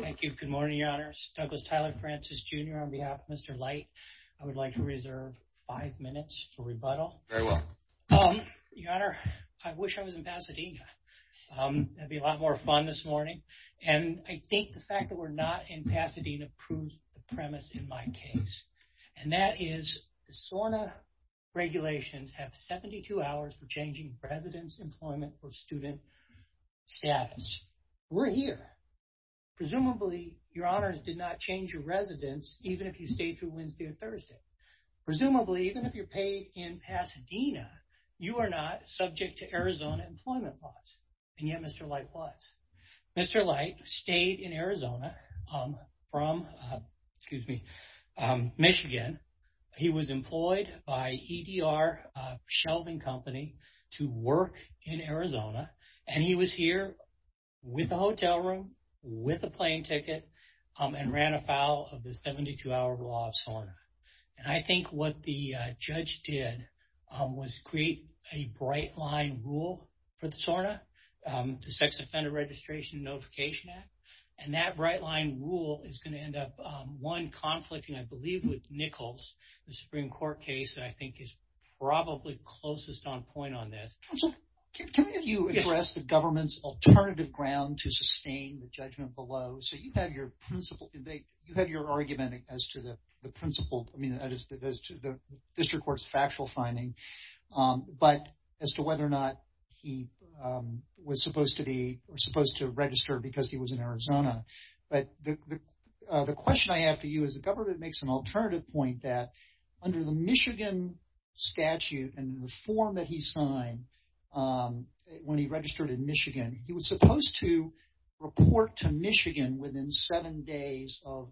Thank you. Good morning, your honors. Douglas Tyler Francis Jr. on behalf of Mr. Lyte. I would like to reserve five minutes for rebuttal. Very well. Your honor, I wish I was in Pasadena. That'd be a lot more fun this morning. And I think the fact that we're not in Pasadena proves the premise in my case. And that is the SORNA regulations have 72 hours for changing residence, employment, or student status. We're here. Presumably, your honors did not change your residence, even if you stayed through Wednesday or Thursday. Presumably, even if you're paid in Pasadena, you are not subject to Arizona employment laws. And yet, Mr. Lyte was. Mr. Lyte stayed in Arizona from, excuse me, in Arizona. And he was here with a hotel room, with a plane ticket, and ran afoul of the 72-hour law of SORNA. And I think what the judge did was create a bright-line rule for the SORNA, the Sex Offender Registration Notification Act. And that bright-line rule is going to end up, one, conflicting, I believe, with Nichols, the Supreme Court case that I think is probably closest on point on this. Can you address the government's alternative ground to sustain the judgment below? So you have your argument as to the principle, I mean, as to the district court's factual finding, but as to whether or not he was supposed to register because he was in Arizona. But the question I have for you is the government makes an alternative point that under the Michigan statute and the form that he signed when he registered in Michigan, he was supposed to report to Michigan within seven days of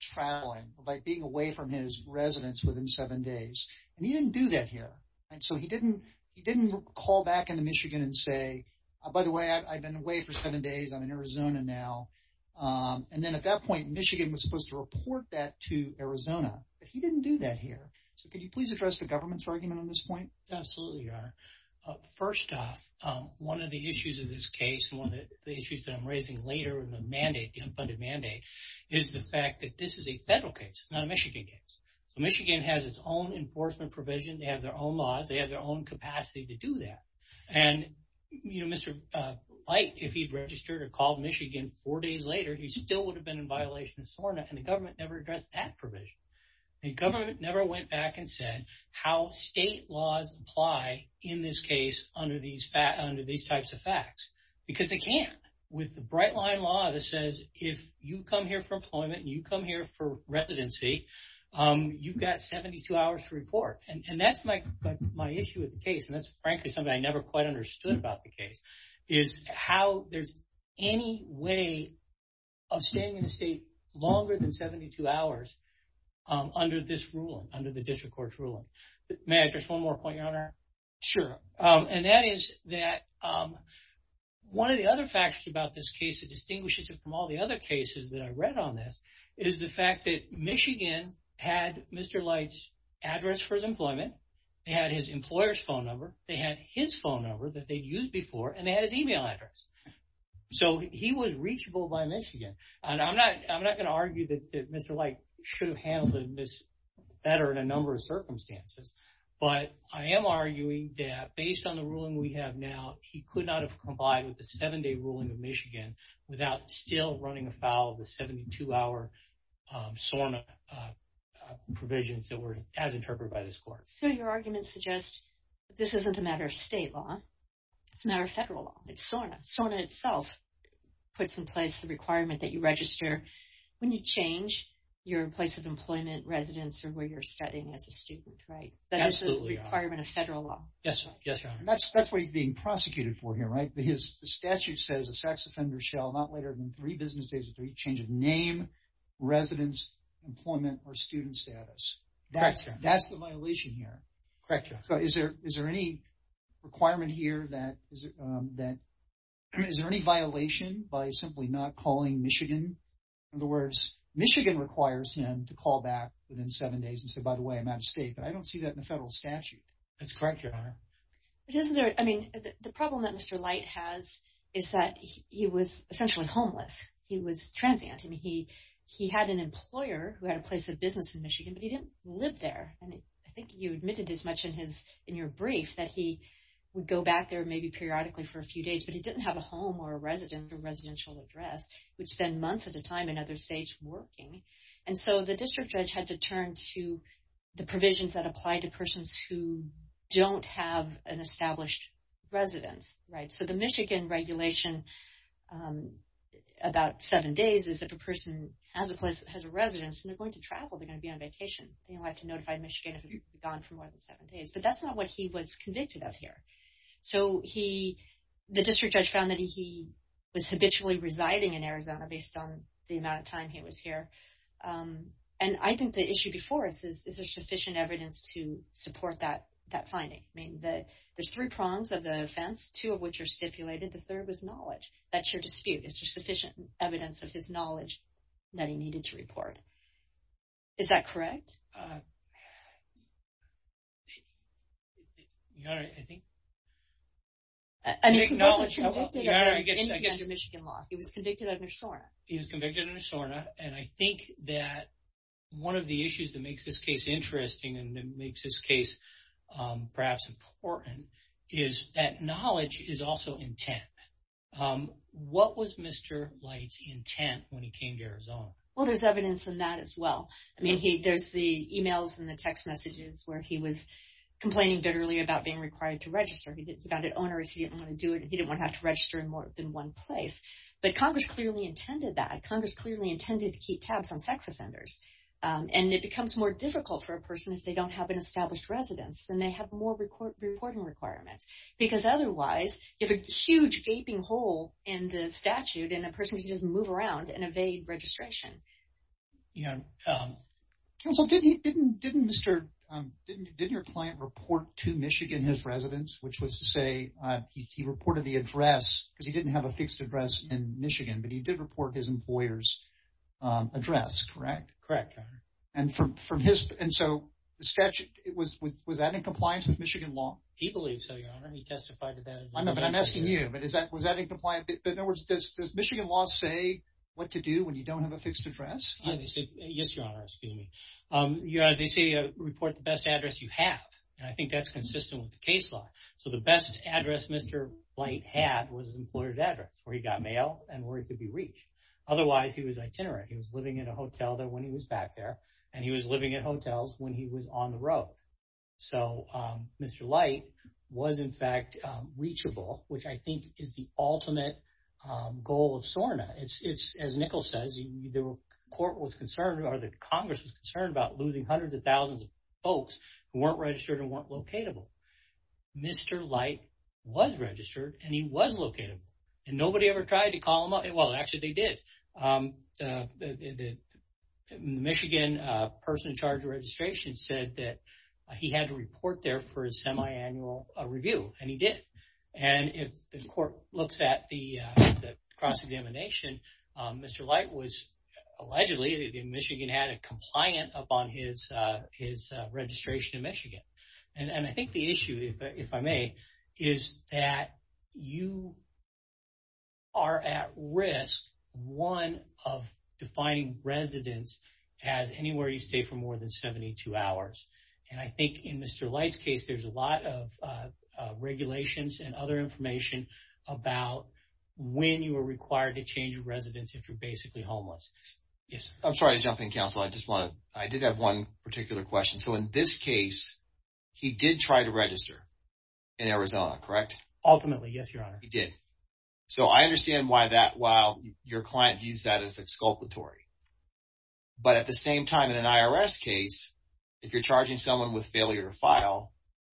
traveling, by being away from his residence within seven days. And he didn't do that here. And so he didn't call back into Michigan and say, by the way, I've been away for seven days. I'm in Arizona now. And then at that Michigan was supposed to report that to Arizona. But he didn't do that here. So could you please address the government's argument on this point? Absolutely, Your Honor. First off, one of the issues of this case, one of the issues that I'm raising later in the mandate, the unfunded mandate, is the fact that this is a federal case. It's not a Michigan case. So Michigan has its own enforcement provision. They have their own laws. They have their own capacity to do that. And, you know, Mr. Bight, if he'd registered or called Michigan four days later, he still would have been in violation of SORNA. And the government never addressed that provision. The government never went back and said how state laws apply in this case under these types of facts. Because they can't. With the bright line law that says, if you come here for employment and you come here for residency, you've got 72 hours to report. And that's my issue with the case. And that's, frankly, something I never quite understood about the case, is how there's any way of staying in the state longer than 72 hours under this ruling, under the district court's ruling. May I address one more point, Your Honor? Sure. And that is that one of the other factors about this case that distinguishes it from all the other cases that I read on this is the fact that Michigan had Mr. Light's address for his employment. They had his phone number that they'd used before, and they had his email address. So he was reachable by Michigan. And I'm not going to argue that Mr. Light should have handled this better in a number of circumstances. But I am arguing that based on the ruling we have now, he could not have complied with the seven-day ruling of Michigan without still running afoul of the 72-hour SORNA provisions that were as interpreted by this court. So your argument suggests this isn't a law. It's a matter of federal law. It's SORNA. SORNA itself puts in place a requirement that you register when you change your place of employment, residence, or where you're studying as a student, right? That is a requirement of federal law. Yes, Your Honor. That's what he's being prosecuted for here, right? The statute says a sex offender shall not later than three business days or three changes name, residence, employment, or student status. That's the violation here. Correct, Your Honor. So is there any requirement here that, is there any violation by simply not calling Michigan? In other words, Michigan requires him to call back within seven days and say, by the way, I'm out of state. But I don't see that in the federal statute. That's correct, Your Honor. But isn't there, I mean, the problem that Mr. Light has is that he was essentially homeless. He was transient. I mean, he had an employer who had a place of business in Michigan, but he didn't live there. I think you admitted as much in your brief that he would go back there maybe periodically for a few days, but he didn't have a home or a residence or residential address. He would spend months at a time in other states working. And so the district judge had to turn to the provisions that apply to persons who don't have an established residence, right? So the Michigan regulation about seven days is if a person has a place, has a residence, and they'll have to notify Michigan if he's gone for more than seven days. But that's not what he was convicted of here. So the district judge found that he was habitually residing in Arizona based on the amount of time he was here. And I think the issue before us is, is there sufficient evidence to support that finding? I mean, there's three prongs of the offense, two of which are stipulated. The third was knowledge. That's your dispute. Is there sufficient evidence of his knowledge that he needed to report? Is that correct? He was convicted under SORNA. He was convicted under SORNA. And I think that one of the issues that makes this case interesting, and it makes this case perhaps important, is that knowledge is also intent. What was Mr. Light's intent when he came to Arizona? Well, there's evidence in that as well. I mean, there's the emails and the text messages where he was complaining bitterly about being required to register. He found it onerous. He didn't want to do it. He didn't want to have to register in more than one place. But Congress clearly intended that. Congress clearly intended to keep tabs on sex offenders. And it becomes more difficult for a person if they don't have an established residence. Then they have more reporting requirements. Because otherwise, you have a huge gaping hole in the statute, and a person can just move around and evade registration. Counsel, didn't your client report to Michigan his residence? Which was to say, he reported the address because he didn't have a fixed address in Michigan. But he did report his employer's address, correct? Correct. And so, was that in compliance with Michigan law? He believes so, Your Honor. He testified to that. I'm asking you, but was that in compliance? But in other words, does Michigan law say what to do when you don't have a fixed address? Yes, Your Honor. They say report the best address you have. And I think that's consistent with the case law. So the best address Mr. Light had was his employer's address, where he got mail and where he could be reached. Otherwise, he was itinerant. He was living in a hotel there when he was back there. And he was living in hotels when he was on the road. So Mr. Light was, in fact, reachable, which I think is the ultimate goal of SORNA. As Nichols says, the court was concerned, or the Congress was concerned about losing hundreds of thousands of folks who weren't registered and weren't locatable. Mr. Light was registered, and he was locatable. And nobody ever tried to call him up. Well, actually, they did. The Michigan person in charge of registration said that he had to report there for a semi-annual review, and he did. And if the court looks at the cross-examination, Mr. Light was allegedly in Michigan, had it compliant upon his registration in Michigan. And I think the issue, if I may, is that you are at risk, one, of defining residence as anywhere you stay for more than 72 hours. And I think in Mr. Light's case, there's a lot of regulations and other information about when you are required to change your residence if you're basically homeless. Yes, sir. I'm sorry to jump in, counsel. I did have one particular question. So in this case, he did try to register in Arizona, correct? Ultimately, yes, Your Honor. He did. So I understand why that, while your client used that as exculpatory. But at the same time, in an IRS case, if you're charging someone with failure to file,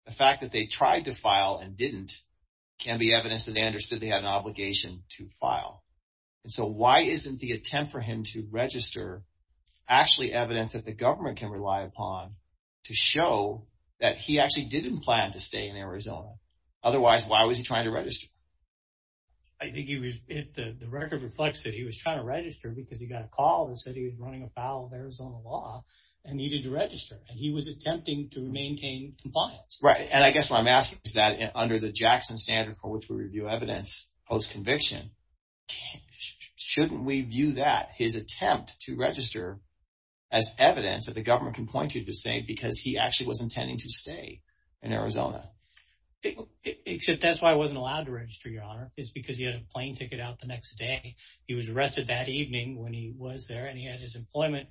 the fact that they tried to file and didn't can be evidence that they understood they had an obligation to file. And so why isn't the attempt for him to show that he actually didn't plan to stay in Arizona? Otherwise, why was he trying to register? I think the record reflects that he was trying to register because he got a call that said he was running afoul of Arizona law and needed to register. And he was attempting to maintain compliance. Right. And I guess what I'm asking is that under the Jackson standard for which we review evidence post-conviction, shouldn't we view that, his attempt to register as evidence that the government can point you to say because he actually was intending to stay in Arizona? Except that's why he wasn't allowed to register, Your Honor, is because he had a plane ticket out the next day. He was arrested that evening when he was there and he had his employment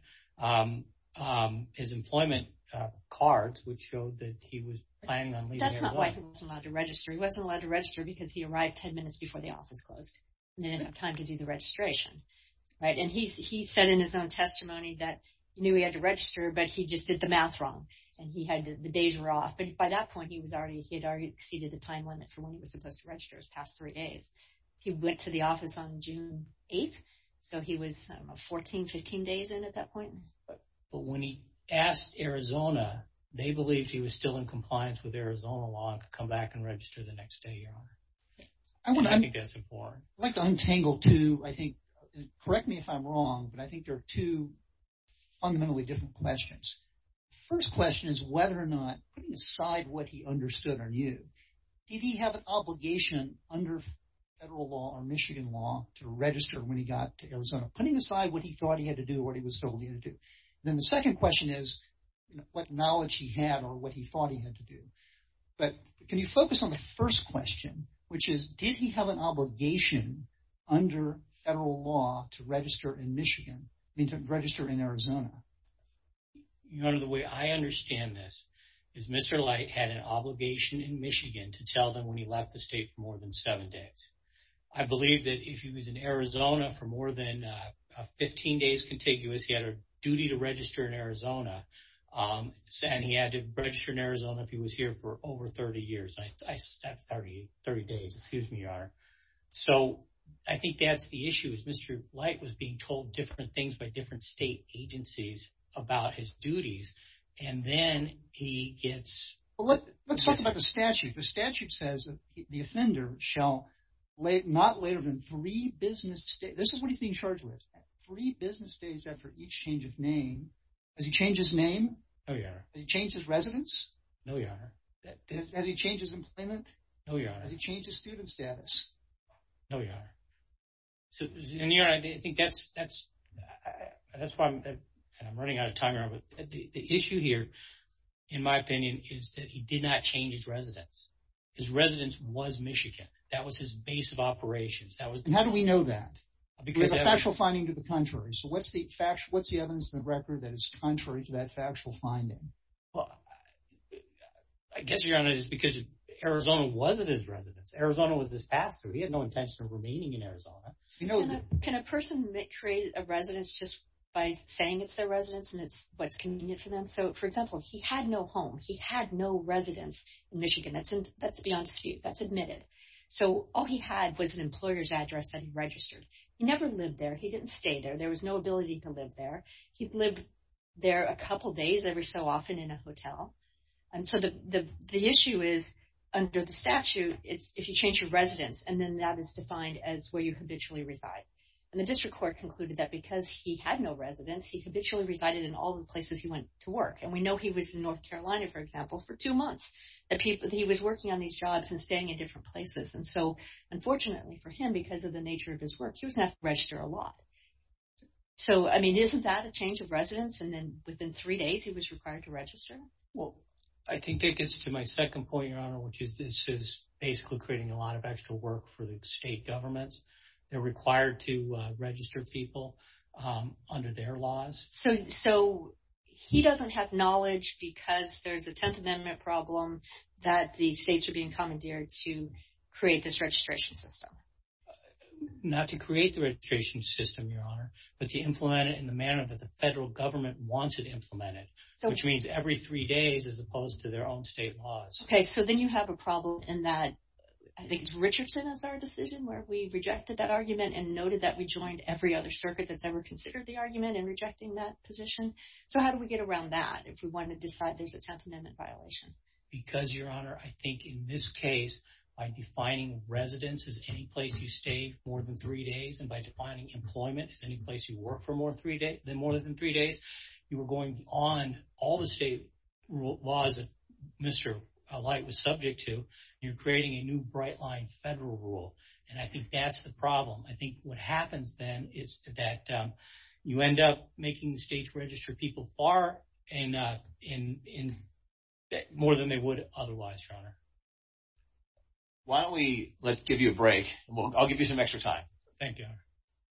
cards which showed that he was planning on leaving Arizona. That's not why he wasn't allowed to register. He wasn't allowed to register because he arrived 10 minutes before the office closed. He didn't have time to do the registration. Right. And he said in his own testimony that he knew he had to register but he just did the math wrong and the days were off. But by that point, he had already exceeded the time limit for when he was supposed to register, his past three days. He went to the office on June 8th, so he was 14-15 days in at that point. But when he asked Arizona, they believed he was still in compliance with Arizona law and could come back and register the next day, Your Honor. I think that's important. I'd like to untangle two, I think, correct me if I'm wrong, but I think there are two fundamentally different questions. The first question is whether or not, putting aside what he understood or knew, did he have an obligation under federal law or Michigan law to register when he got to Arizona? Putting aside what he thought he had to do, what he was told he had to do. Then the second question is what knowledge he had or what he thought he had to do. But can you focus on the first question, which is did he have an obligation under federal law to register in Michigan, I mean to register in Arizona? Your Honor, the way I understand this is Mr. Light had an obligation in Michigan to tell them when he left the state for more than seven days. I believe that if he was in Arizona for more than 15 days contiguous, he had a duty to register in Arizona. And he had to register in Arizona if he was here for over 30 years. I said 30 days, excuse me, Your Honor. So I think that's the issue is Mr. Light was being told different things by different state agencies about his duties and then he gets... Let's talk about the statute. The statute says the offender shall not later than three business days, this is what he's being charged with, three business days after each change of name. Has he changed his name? No, Your Honor. Has he changed his employment? No, Your Honor. Has he changed his student status? No, Your Honor. Your Honor, I think that's why I'm running out of time, Your Honor. The issue here, in my opinion, is that he did not change his residence. His residence was Michigan. That was his base of operations. And how do we know that? Because there's a factual finding to the contrary. So what's the evidence in the record that is Arizona wasn't his residence? Arizona was his pass through. He had no intention of remaining in Arizona. Can a person create a residence just by saying it's their residence and it's what's convenient for them? So, for example, he had no home. He had no residence in Michigan. That's beyond dispute. That's admitted. So all he had was an employer's address that he registered. He never lived there. He didn't stay there. There was no ability to live there. He lived there a couple of years. So, under the statute, if you change your residence, and then that is defined as where you habitually reside. And the district court concluded that because he had no residence, he habitually resided in all the places he went to work. And we know he was in North Carolina, for example, for two months. He was working on these jobs and staying in different places. And so, unfortunately for him, because of the nature of his work, he was going to have to register a lot. So, I mean, isn't that a change of residence? And then within three days, he was required to register? I think that gets to my second point, Your Honor. This is basically creating a lot of extra work for the state governments. They're required to register people under their laws. So, he doesn't have knowledge because there's a Tenth Amendment problem that the states are being commandeered to create this registration system? Not to create the registration system, Your Honor, but to implement it in the manner that the federal government wants it implemented, which means every three days as opposed to their own state laws. Okay, so then you have a problem in that, I think it's Richardson as our decision, where we rejected that argument and noted that we joined every other circuit that's ever considered the argument in rejecting that position. So, how do we get around that if we want to decide there's a Tenth Amendment violation? Because, Your Honor, I think in this case, by defining residence as any place you stay more than three days, and by defining employment as any place you work for more than three days, you were going on all the state laws that Mr. Light was subject to. You're creating a new bright-line federal rule, and I think that's the problem. I think what happens then is that you end up making the states register people far more than they would otherwise, Your Honor. Why don't we give you a break? I'll give you some extra time. Thank you.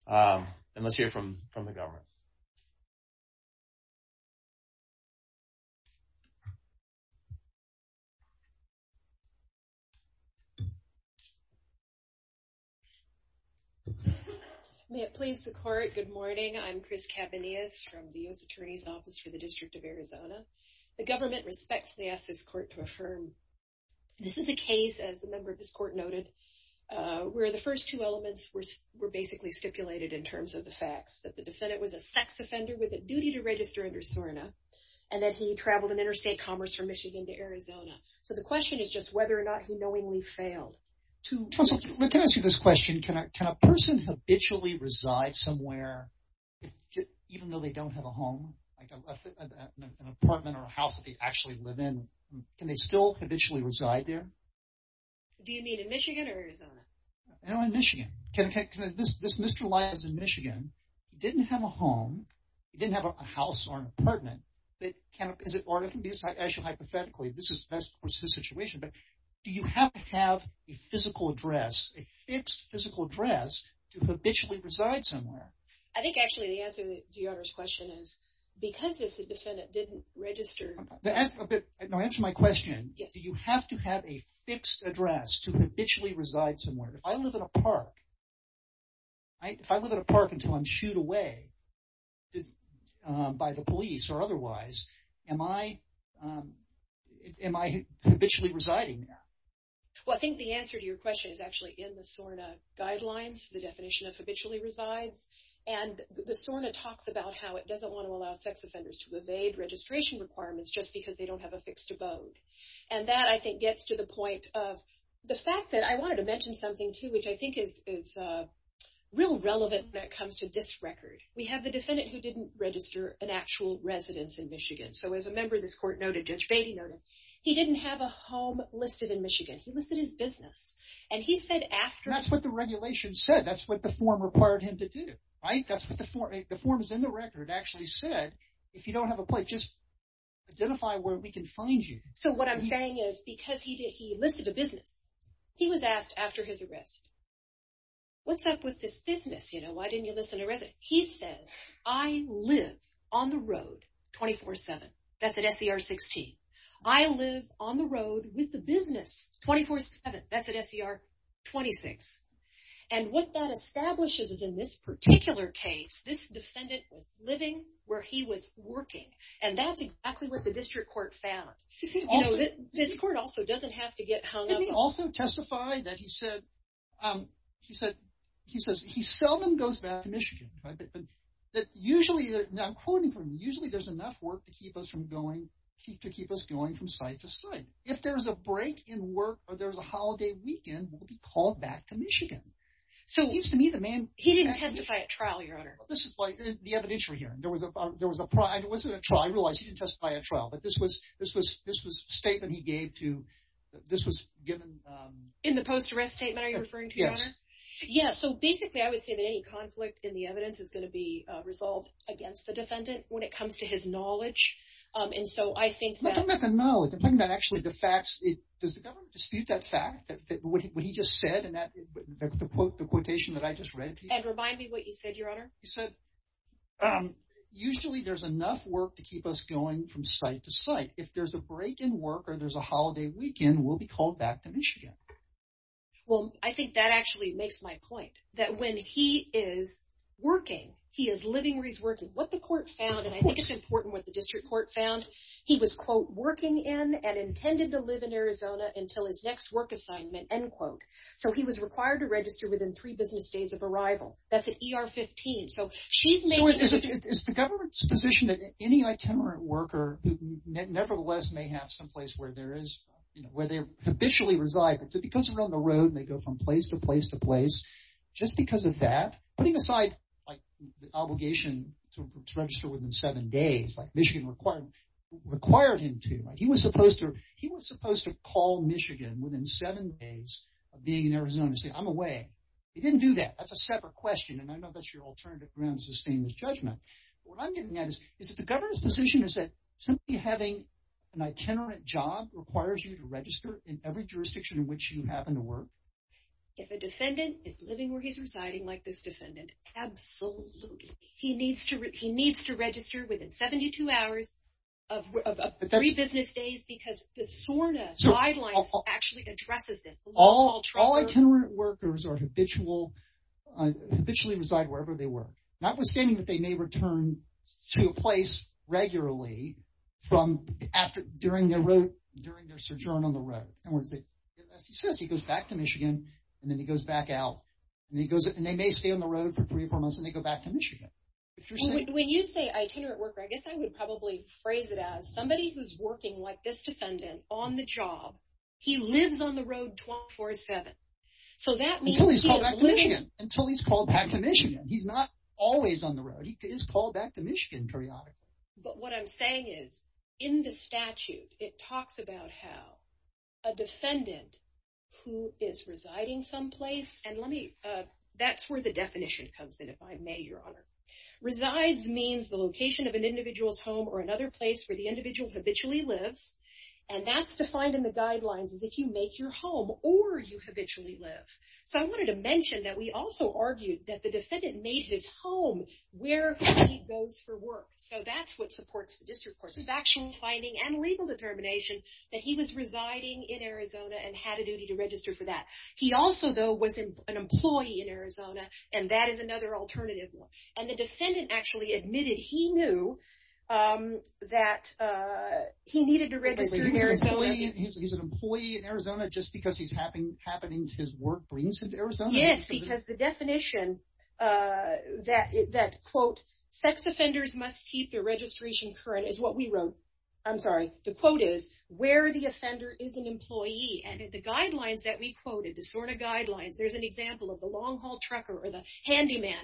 And let's hear from the government. May it please the court, good morning. I'm Chris Cabanillas from the U.S. Attorney's Office for the District of Arizona. The government respectfully asks this court to affirm. This is a case, as a member of this court noted, where the first two the defendant was a sex offender with a duty to register under SORNA, and then he traveled in interstate commerce from Michigan to Arizona. So the question is just whether or not he knowingly failed. Let me ask you this question. Can a person habitually reside somewhere, even though they don't have a home, an apartment or a house that they actually live in, can they still habitually reside there? Do you mean in Michigan or Arizona? In Michigan. This Mr. Light is in Michigan. He didn't have a home, he didn't have a house or an apartment, but can he visit, or hypothetically, this is his situation, but do you have to have a physical address, a fixed physical address, to habitually reside somewhere? I think actually the answer to Your Honor's question is because this defendant didn't register. Answer my question. Do you have to have a fixed address to habitually reside somewhere? If I live in a park, if I live in a park until I'm sued away by the police or otherwise, am I habitually residing there? Well, I think the answer to your question is actually in the SORNA guidelines, the definition of habitually resides, and the SORNA talks about how it doesn't want to allow sex offenders to evade registration requirements just because they don't have a fixed abode. And that, I think, gets to the point of the fact that I wanted to mention something, too, which I think is real relevant when it comes to the record. We have a defendant who didn't register an actual residence in Michigan. So as a member of this court noted, Judge Beatty noted, he didn't have a home listed in Michigan. He listed his business, and he said after... That's what the regulation said. That's what the form required him to do, right? That's what the form is in the record actually said. If you don't have a place, just identify where we can find you. So what I'm saying is because he listed a business, he was asked after his arrest, what's up with this business, you know? Why didn't you list an arrest? He said, I live on the road 24-7. That's at SCR 16. I live on the road with the business 24-7. That's at SCR 26. And what that establishes is in this particular case, this defendant was living where he was working, and that's exactly what the district court found. You know, this court also doesn't have to get hung up... Didn't he also testify that he said, he said, he seldom goes back to Michigan. That usually, now I'm quoting from him, usually there's enough work to keep us from going, to keep us going from site to site. If there's a break in work, or there's a holiday weekend, we'll be called back to Michigan. So it seems to me the man... He didn't testify at trial, Your Honor. This is like the evidentiary hearing. There was a, there was a, it wasn't a trial. I realized he didn't testify at trial, but this was, this was, this was a statement he gave to, this was given... In the post-arrest statement are you referring to, Your Honor? Yes. Yeah, so basically I would say that any conflict in the evidence is going to be resolved against the defendant when it comes to his knowledge, and so I think... I'm not talking about the knowledge. I'm talking about actually the facts. Does the government dispute that fact? What he just said, and that, the quote, the quotation that I just read to you? And remind me what you said, Your Honor. He said, usually there's enough work to keep us going from site to site. If there's a break in work, or there's a holiday weekend, we'll be called back to you. Makes my point. That when he is working, he is living where he's working. What the court found, and I think it's important what the district court found, he was, quote, working in and intended to live in Arizona until his next work assignment, end quote. So he was required to register within three business days of arrival. That's at ER 15. So she's making... Is the government's position that any itinerant worker, who nevertheless may have someplace where there is, you know, where they habitually reside, but because they're on the road, and they go from place to place, just because of that? Putting aside, like, the obligation to register within seven days, like Michigan required him to. He was supposed to, he was supposed to call Michigan within seven days of being in Arizona and say, I'm away. He didn't do that. That's a separate question, and I know that's your alternative ground to sustain this judgment. What I'm getting at is, is that the governor's position is that simply having an itinerant job requires you to is living where he's residing, like this defendant. Absolutely. He needs to, he needs to register within 72 hours of three business days, because the SORNA guidelines actually addresses this. All itinerant workers are habitual, habitually reside wherever they work. Notwithstanding that they may return to a place regularly from after, during their road, during their sojourn on the road. In other words, as he says, he goes back to Michigan, and then he goes back out. And he goes, and they may stay on the road for three or four months, and they go back to Michigan. When you say itinerant worker, I guess I would probably phrase it as somebody who's working like this defendant on the job. He lives on the road 24-7. So that means he is living. Until he's called back to Michigan. He's not always on the road. He is called back to Michigan periodically. But what I'm saying is, in the statute, it talks about how a defendant who is residing someplace, and let me, that's where the definition comes in, if I may, your honor. Resides means the location of an individual's home or another place where the individual habitually lives. And that's defined in the guidelines, is if you make your home or you habitually live. So I wanted to mention that we also argued that the defendant made his home where he goes for work. So that's what supports district courts. Factual finding and legal determination that he was residing in Arizona and had a duty to register for that. He also, though, was an employee in Arizona, and that is another alternative. And the defendant actually admitted he knew that he needed to register. He's an employee in Arizona just because he's happening, happening, his work brings him to Arizona. Yes, because the definition that, quote, sex offenders must keep their registration current is what we wrote. I'm sorry, the quote is, where the offender is an employee. And the guidelines that we quoted, the SORNA guidelines, there's an example of the long-haul trucker or the handyman.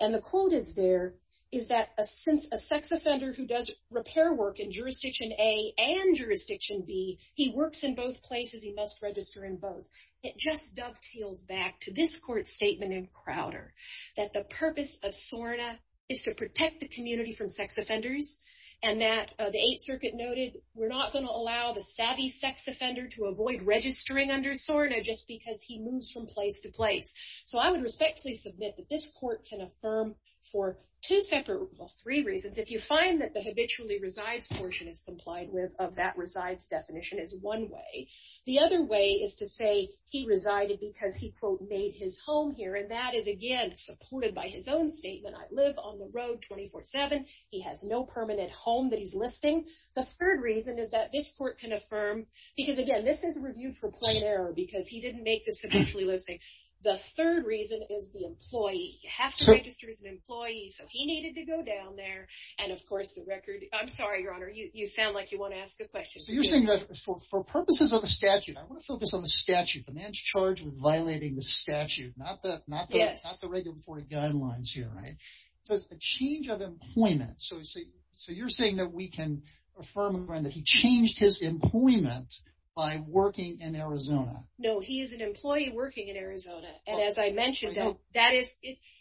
And the quote is there, is that since a sex offender who does repair work in jurisdiction A and jurisdiction B, he works in both places, he must register in both. It just dovetails back to this court statement in Crowder that the purpose of SORNA is to protect the community from sex offenders. And that the Eighth Circuit noted, we're not going to allow the savvy sex offender to avoid registering under SORNA just because he moves from place to place. So I would respectfully submit that this court can affirm for two separate, well, three reasons. If you find that the habitually resides portion is complied with of that resides definition is one way. The other way is to say he resided because he, quote, made his home here. And that is again, supported by his own statement. I live on the road 24-7. He has no permanent home that he's listing. The third reason is that this court can affirm, because again, this is reviewed for plain error because he didn't make this habitually listing. The third reason is the employee. You have to register as an employee, so he needed to go down there. And of course, the record, I'm sorry, Your Honor, you sound like you want to ask a question. So you're saying that for purposes of the statute, I want to focus on the statute. The man's charged with violating the statute, not the regulatory guidelines here, right? There's a change of employment. So you're saying that we can affirm that he changed his employment by working in Arizona? No, he is an employee working in Arizona. And as I mentioned, that is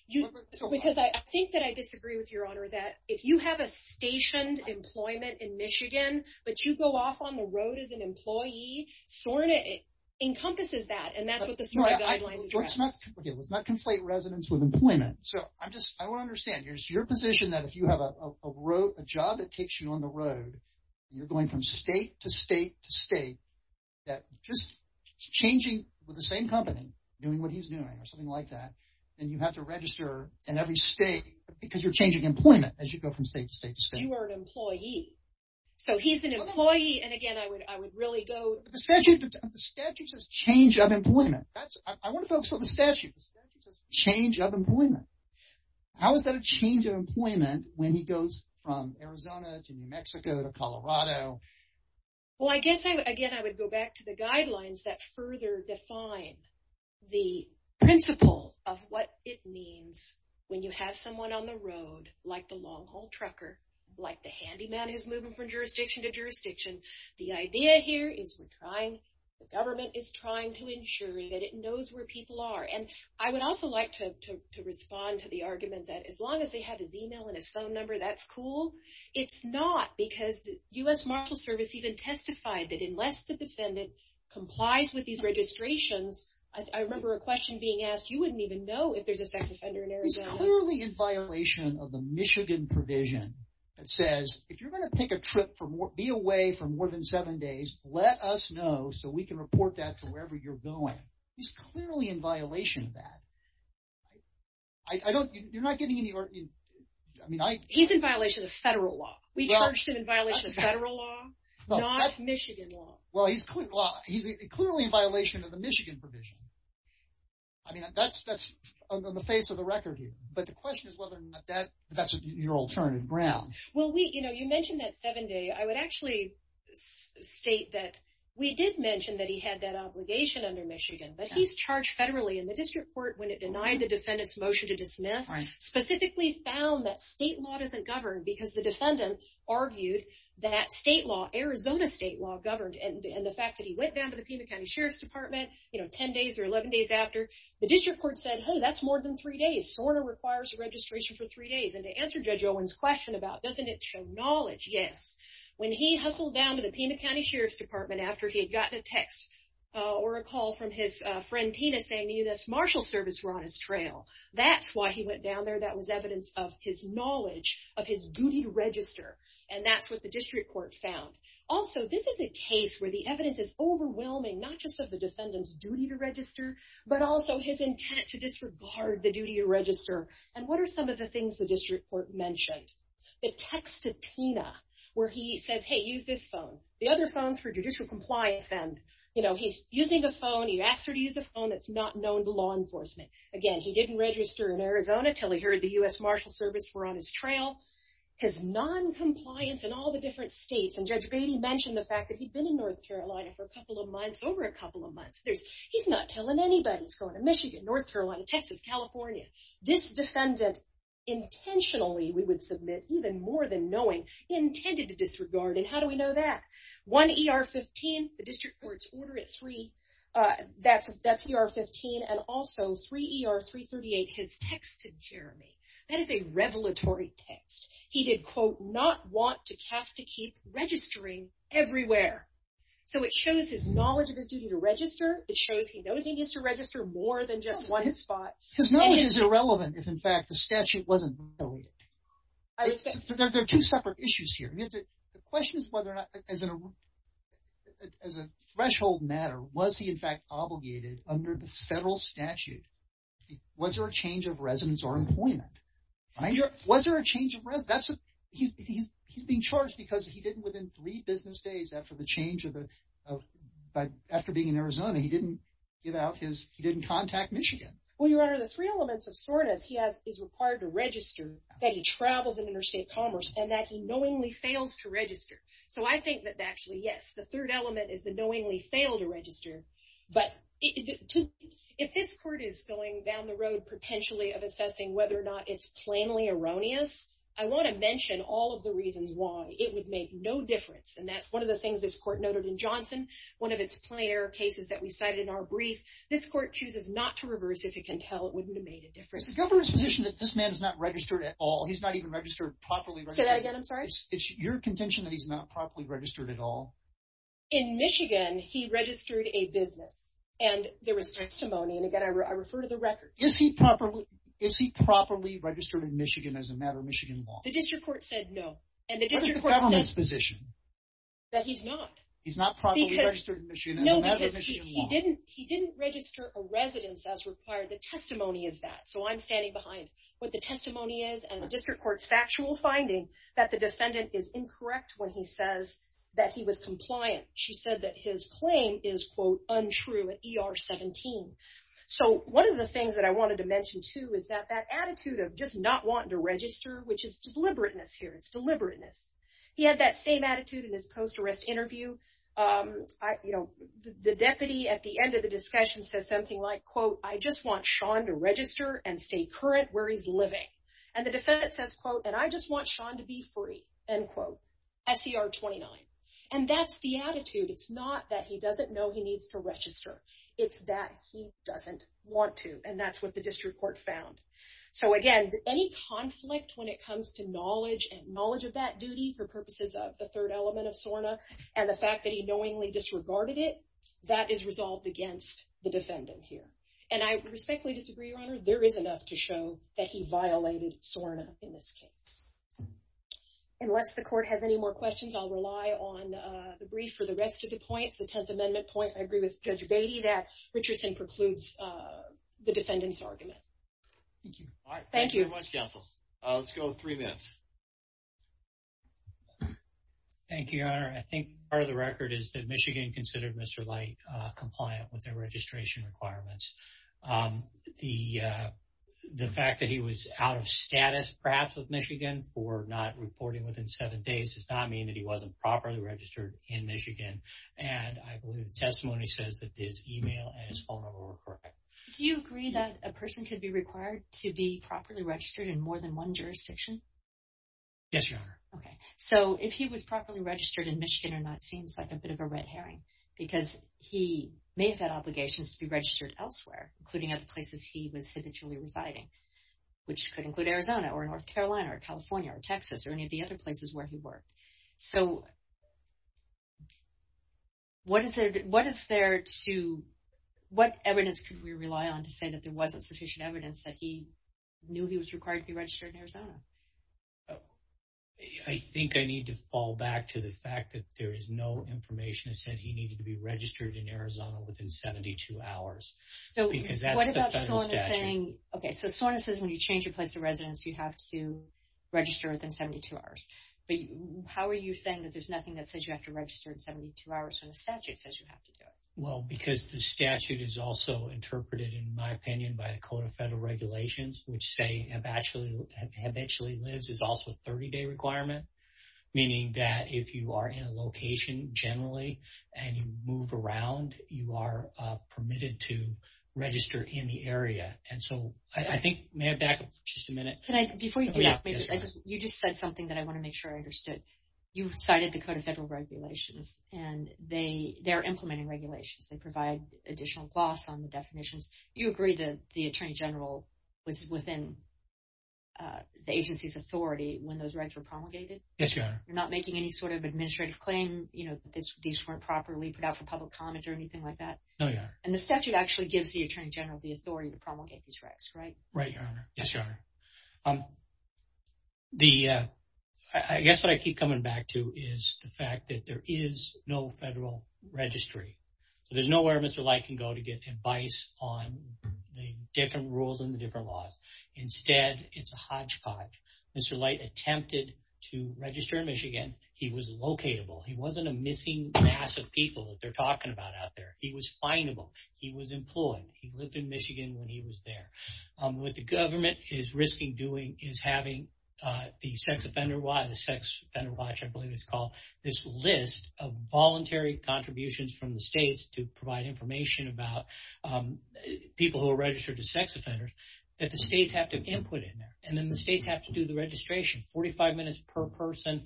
because I think that I disagree with Your Honor that if you have a stationed employment in Michigan, but you go off on the road as an employee, SORNA encompasses that. And that's what the SORNA guidelines address. Okay, let's not conflate residence with employment. So I'm just, I want to understand, it's your position that if you have a job that takes you on the road, you're going from state to state to state, that just changing with the same company, doing what he's doing or something like that, then you have to register in every state because you're changing employment as you go from state to state to state. You are an employee. So he's an employee. And again, I would really go... The statute says change of employment. I want to focus on the statute. The statute says change of employment. How is that a change of employment when he goes from Arizona to New Mexico to Colorado? Well, I guess, again, I would go back to the guidelines that further define the principle of what it means when you have someone on the road, like the long haul trucker, like the handyman who's moving from jurisdiction to jurisdiction. The idea here is the government is trying to ensure that it knows where people are. And I would also like to respond to the argument that as long as they have his email and his phone number, that's cool. It's not, because the U.S. Marshals Service even testified that unless the defendant complies with these registrations, I remember a question being asked, you wouldn't even know if there's a Michigan provision that says, if you're going to pick a trip for more, be away for more than seven days, let us know so we can report that to wherever you're going. He's clearly in violation of that. I don't... You're not getting any... I mean, I... He's in violation of federal law. We charged him in violation of federal law, not Michigan law. Well, he's clearly in violation of the Michigan provision. I mean, that's on the face of the record here. But the question is that's your alternative ground. Well, we, you know, you mentioned that seven day. I would actually state that we did mention that he had that obligation under Michigan, but he's charged federally in the district court when it denied the defendant's motion to dismiss. Specifically found that state law doesn't govern because the defendant argued that state law, Arizona state law governed. And the fact that he went down to the Pima County Sheriff's Department, you know, 10 days or 11 days after the district court said, hey, that's more than three days, sort of requires a registration for three days. And to answer Judge Owen's question about doesn't it show knowledge? Yes. When he hustled down to the Pima County Sheriff's Department after he had gotten a text or a call from his friend Tina saying the U.S. Marshal Service were on his trail. That's why he went down there. That was evidence of his knowledge of his duty to register. And that's what the district court found. Also, this is a case where the evidence is overwhelming, not just of the defendant's duty to register, but also his intent to disregard the duty to register. And what are some of the things the district court mentioned? The text to Tina where he says, hey, use this phone. The other phones for judicial compliance. And, you know, he's using a phone. He asked her to use a phone that's not known to law enforcement. Again, he didn't register in Arizona until he heard the U.S. Marshal Service were on his trail. His noncompliance in all the different states. And Judge Beatty mentioned the fact that he'd been in North Carolina for a couple of months, over a couple of months. He's not telling anybody he's going to Michigan, North Carolina, Texas, California. This defendant intentionally, we would submit, even more than knowing, he intended to disregard. And how do we know that? One ER-15, the district court's order at three, that's ER-15, and also three ER-338 has texted Jeremy. That is a revelatory text. He did, quote, not want to have to keep registering everywhere. So it shows his knowledge of his duty to register. It shows he needs to register more than just one spot. His knowledge is irrelevant if, in fact, the statute wasn't violated. There are two separate issues here. The question is whether or not, as a threshold matter, was he, in fact, obligated under the federal statute? Was there a change of residence or employment? Was there a change of residence? He's being charged because he didn't, within three months, he didn't contact Michigan. Well, Your Honor, the three elements of soreness he has is required to register, that he travels in interstate commerce, and that he knowingly fails to register. So I think that, actually, yes, the third element is the knowingly fail to register. But if this court is going down the road, potentially, of assessing whether or not it's plainly erroneous, I want to mention all of the reasons why it would make no difference. And that's one of the things this court noted in Johnson, one of its plain error cases that we cited in our brief. This court chooses not to reverse if it can tell it wouldn't have made a difference. The governor's position that this man is not registered at all, he's not even registered properly. Say that again, I'm sorry. It's your contention that he's not properly registered at all? In Michigan, he registered a business. And there was testimony, and again, I refer to the record. Is he properly registered in Michigan as a matter of Michigan law? The district court said no. And the district court said... What's the government's position? That he's not. He's not properly registered in Michigan as a matter of Michigan law. No, because he didn't register a residence as required. The testimony is that. So I'm standing behind what the testimony is and the district court's factual finding that the defendant is incorrect when he says that he was compliant. She said that his claim is, quote, untrue at ER 17. So one of the things that I wanted to mention, too, is that that attitude of just not wanting to register, which is the same attitude in his post-arrest interview. The deputy at the end of the discussion says something like, quote, I just want Sean to register and stay current where he's living. And the defendant says, quote, and I just want Sean to be free, end quote, SCR 29. And that's the attitude. It's not that he doesn't know he needs to register. It's that he doesn't want to. And that's what the district court found. So again, any conflict when it comes to knowledge and knowledge of that duty for purposes of the third element of SORNA and the fact that he knowingly disregarded it, that is resolved against the defendant here. And I respectfully disagree, Your Honor. There is enough to show that he violated SORNA in this case. Unless the court has any more questions, I'll rely on the brief for the rest of the points. The 10th Amendment point, I agree with Judge Beatty that Richardson precludes the defendant's argument. Thank you. All right. Thank you very much, counsel. Let's go three minutes. Thank you, Your Honor. I think part of the record is that Michigan considered Mr. Light compliant with their registration requirements. The fact that he was out of status, perhaps, with Michigan for not reporting within seven days does not mean that he wasn't properly registered in Michigan. And I believe the testimony says that his email and his phone number were correct. Do you agree that a person could be required to be properly registered in more than one jurisdiction? Yes, Your Honor. Okay. So if he was properly registered in Michigan or not seems like a bit of a red herring because he may have had obligations to be registered elsewhere, including other places he was habitually residing, which could include Arizona or North Carolina or California or Texas or any of the other places where he worked. So what evidence could we rely on to say that there wasn't sufficient evidence that he knew he was required to be registered in Arizona? I think I need to fall back to the fact that there is no information that said he needed to be registered in Arizona within 72 hours. Okay. So SORNA says when you change your place of residence, you have to say that there's nothing that says you have to register in 72 hours when the statute says you have to do it. Well, because the statute is also interpreted, in my opinion, by the Code of Federal Regulations, which say habitually lives is also a 30-day requirement, meaning that if you are in a location generally and you move around, you are permitted to register in the area. And so I think may I back up just a minute? Before you do that, you just said something that I want to make sure I understood. You cited the Code of Federal Regulations, and they are implementing regulations. They provide additional gloss on the definitions. You agree that the Attorney General was within the agency's authority when those rights were promulgated? Yes, Your Honor. You're not making any sort of administrative claim that these weren't properly put out for public comment or anything like that? No, Your Honor. And the statute actually gives the Attorney General the authority to promulgate these rights, right? Right, Your Honor. Yes, Your Honor. I guess what I keep coming back to is the fact that there is no federal registry. There's nowhere Mr. Light can go to get advice on the different rules and the different laws. Instead, it's a hodgepodge. Mr. Light attempted to register in Michigan. He was locatable. He wasn't a missing mass of people that they're talking about out there. He was findable. He was employed. He is having the sex offender watch, I believe it's called, this list of voluntary contributions from the states to provide information about people who are registered as sex offenders that the states have to input in there. And then the states have to do the registration, 45 minutes per person.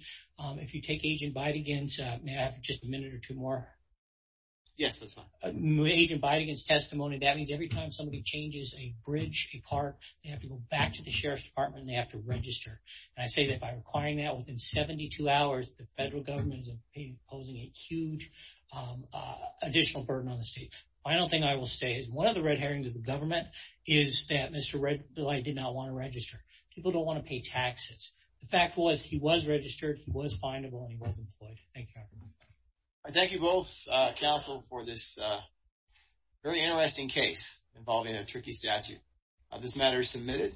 If you take Agent Beidigin's, may I have just a minute or two more? Yes, that's fine. Agent Beidigin's testimony, that means every time somebody changes a bridge, a park, they have to go back to the Sheriff's Department and they have to register. And I say that by requiring that within 72 hours, the federal government is imposing a huge additional burden on the state. The final thing I will say is one of the red herrings of the government is that Mr. Light did not want to register. People don't want to pay taxes. The fact was he was registered, he was findable, and he was employed. Thank you, Your Honor. I thank you both, counsel, for this very interesting case involving a tricky statute. This matter is submitted.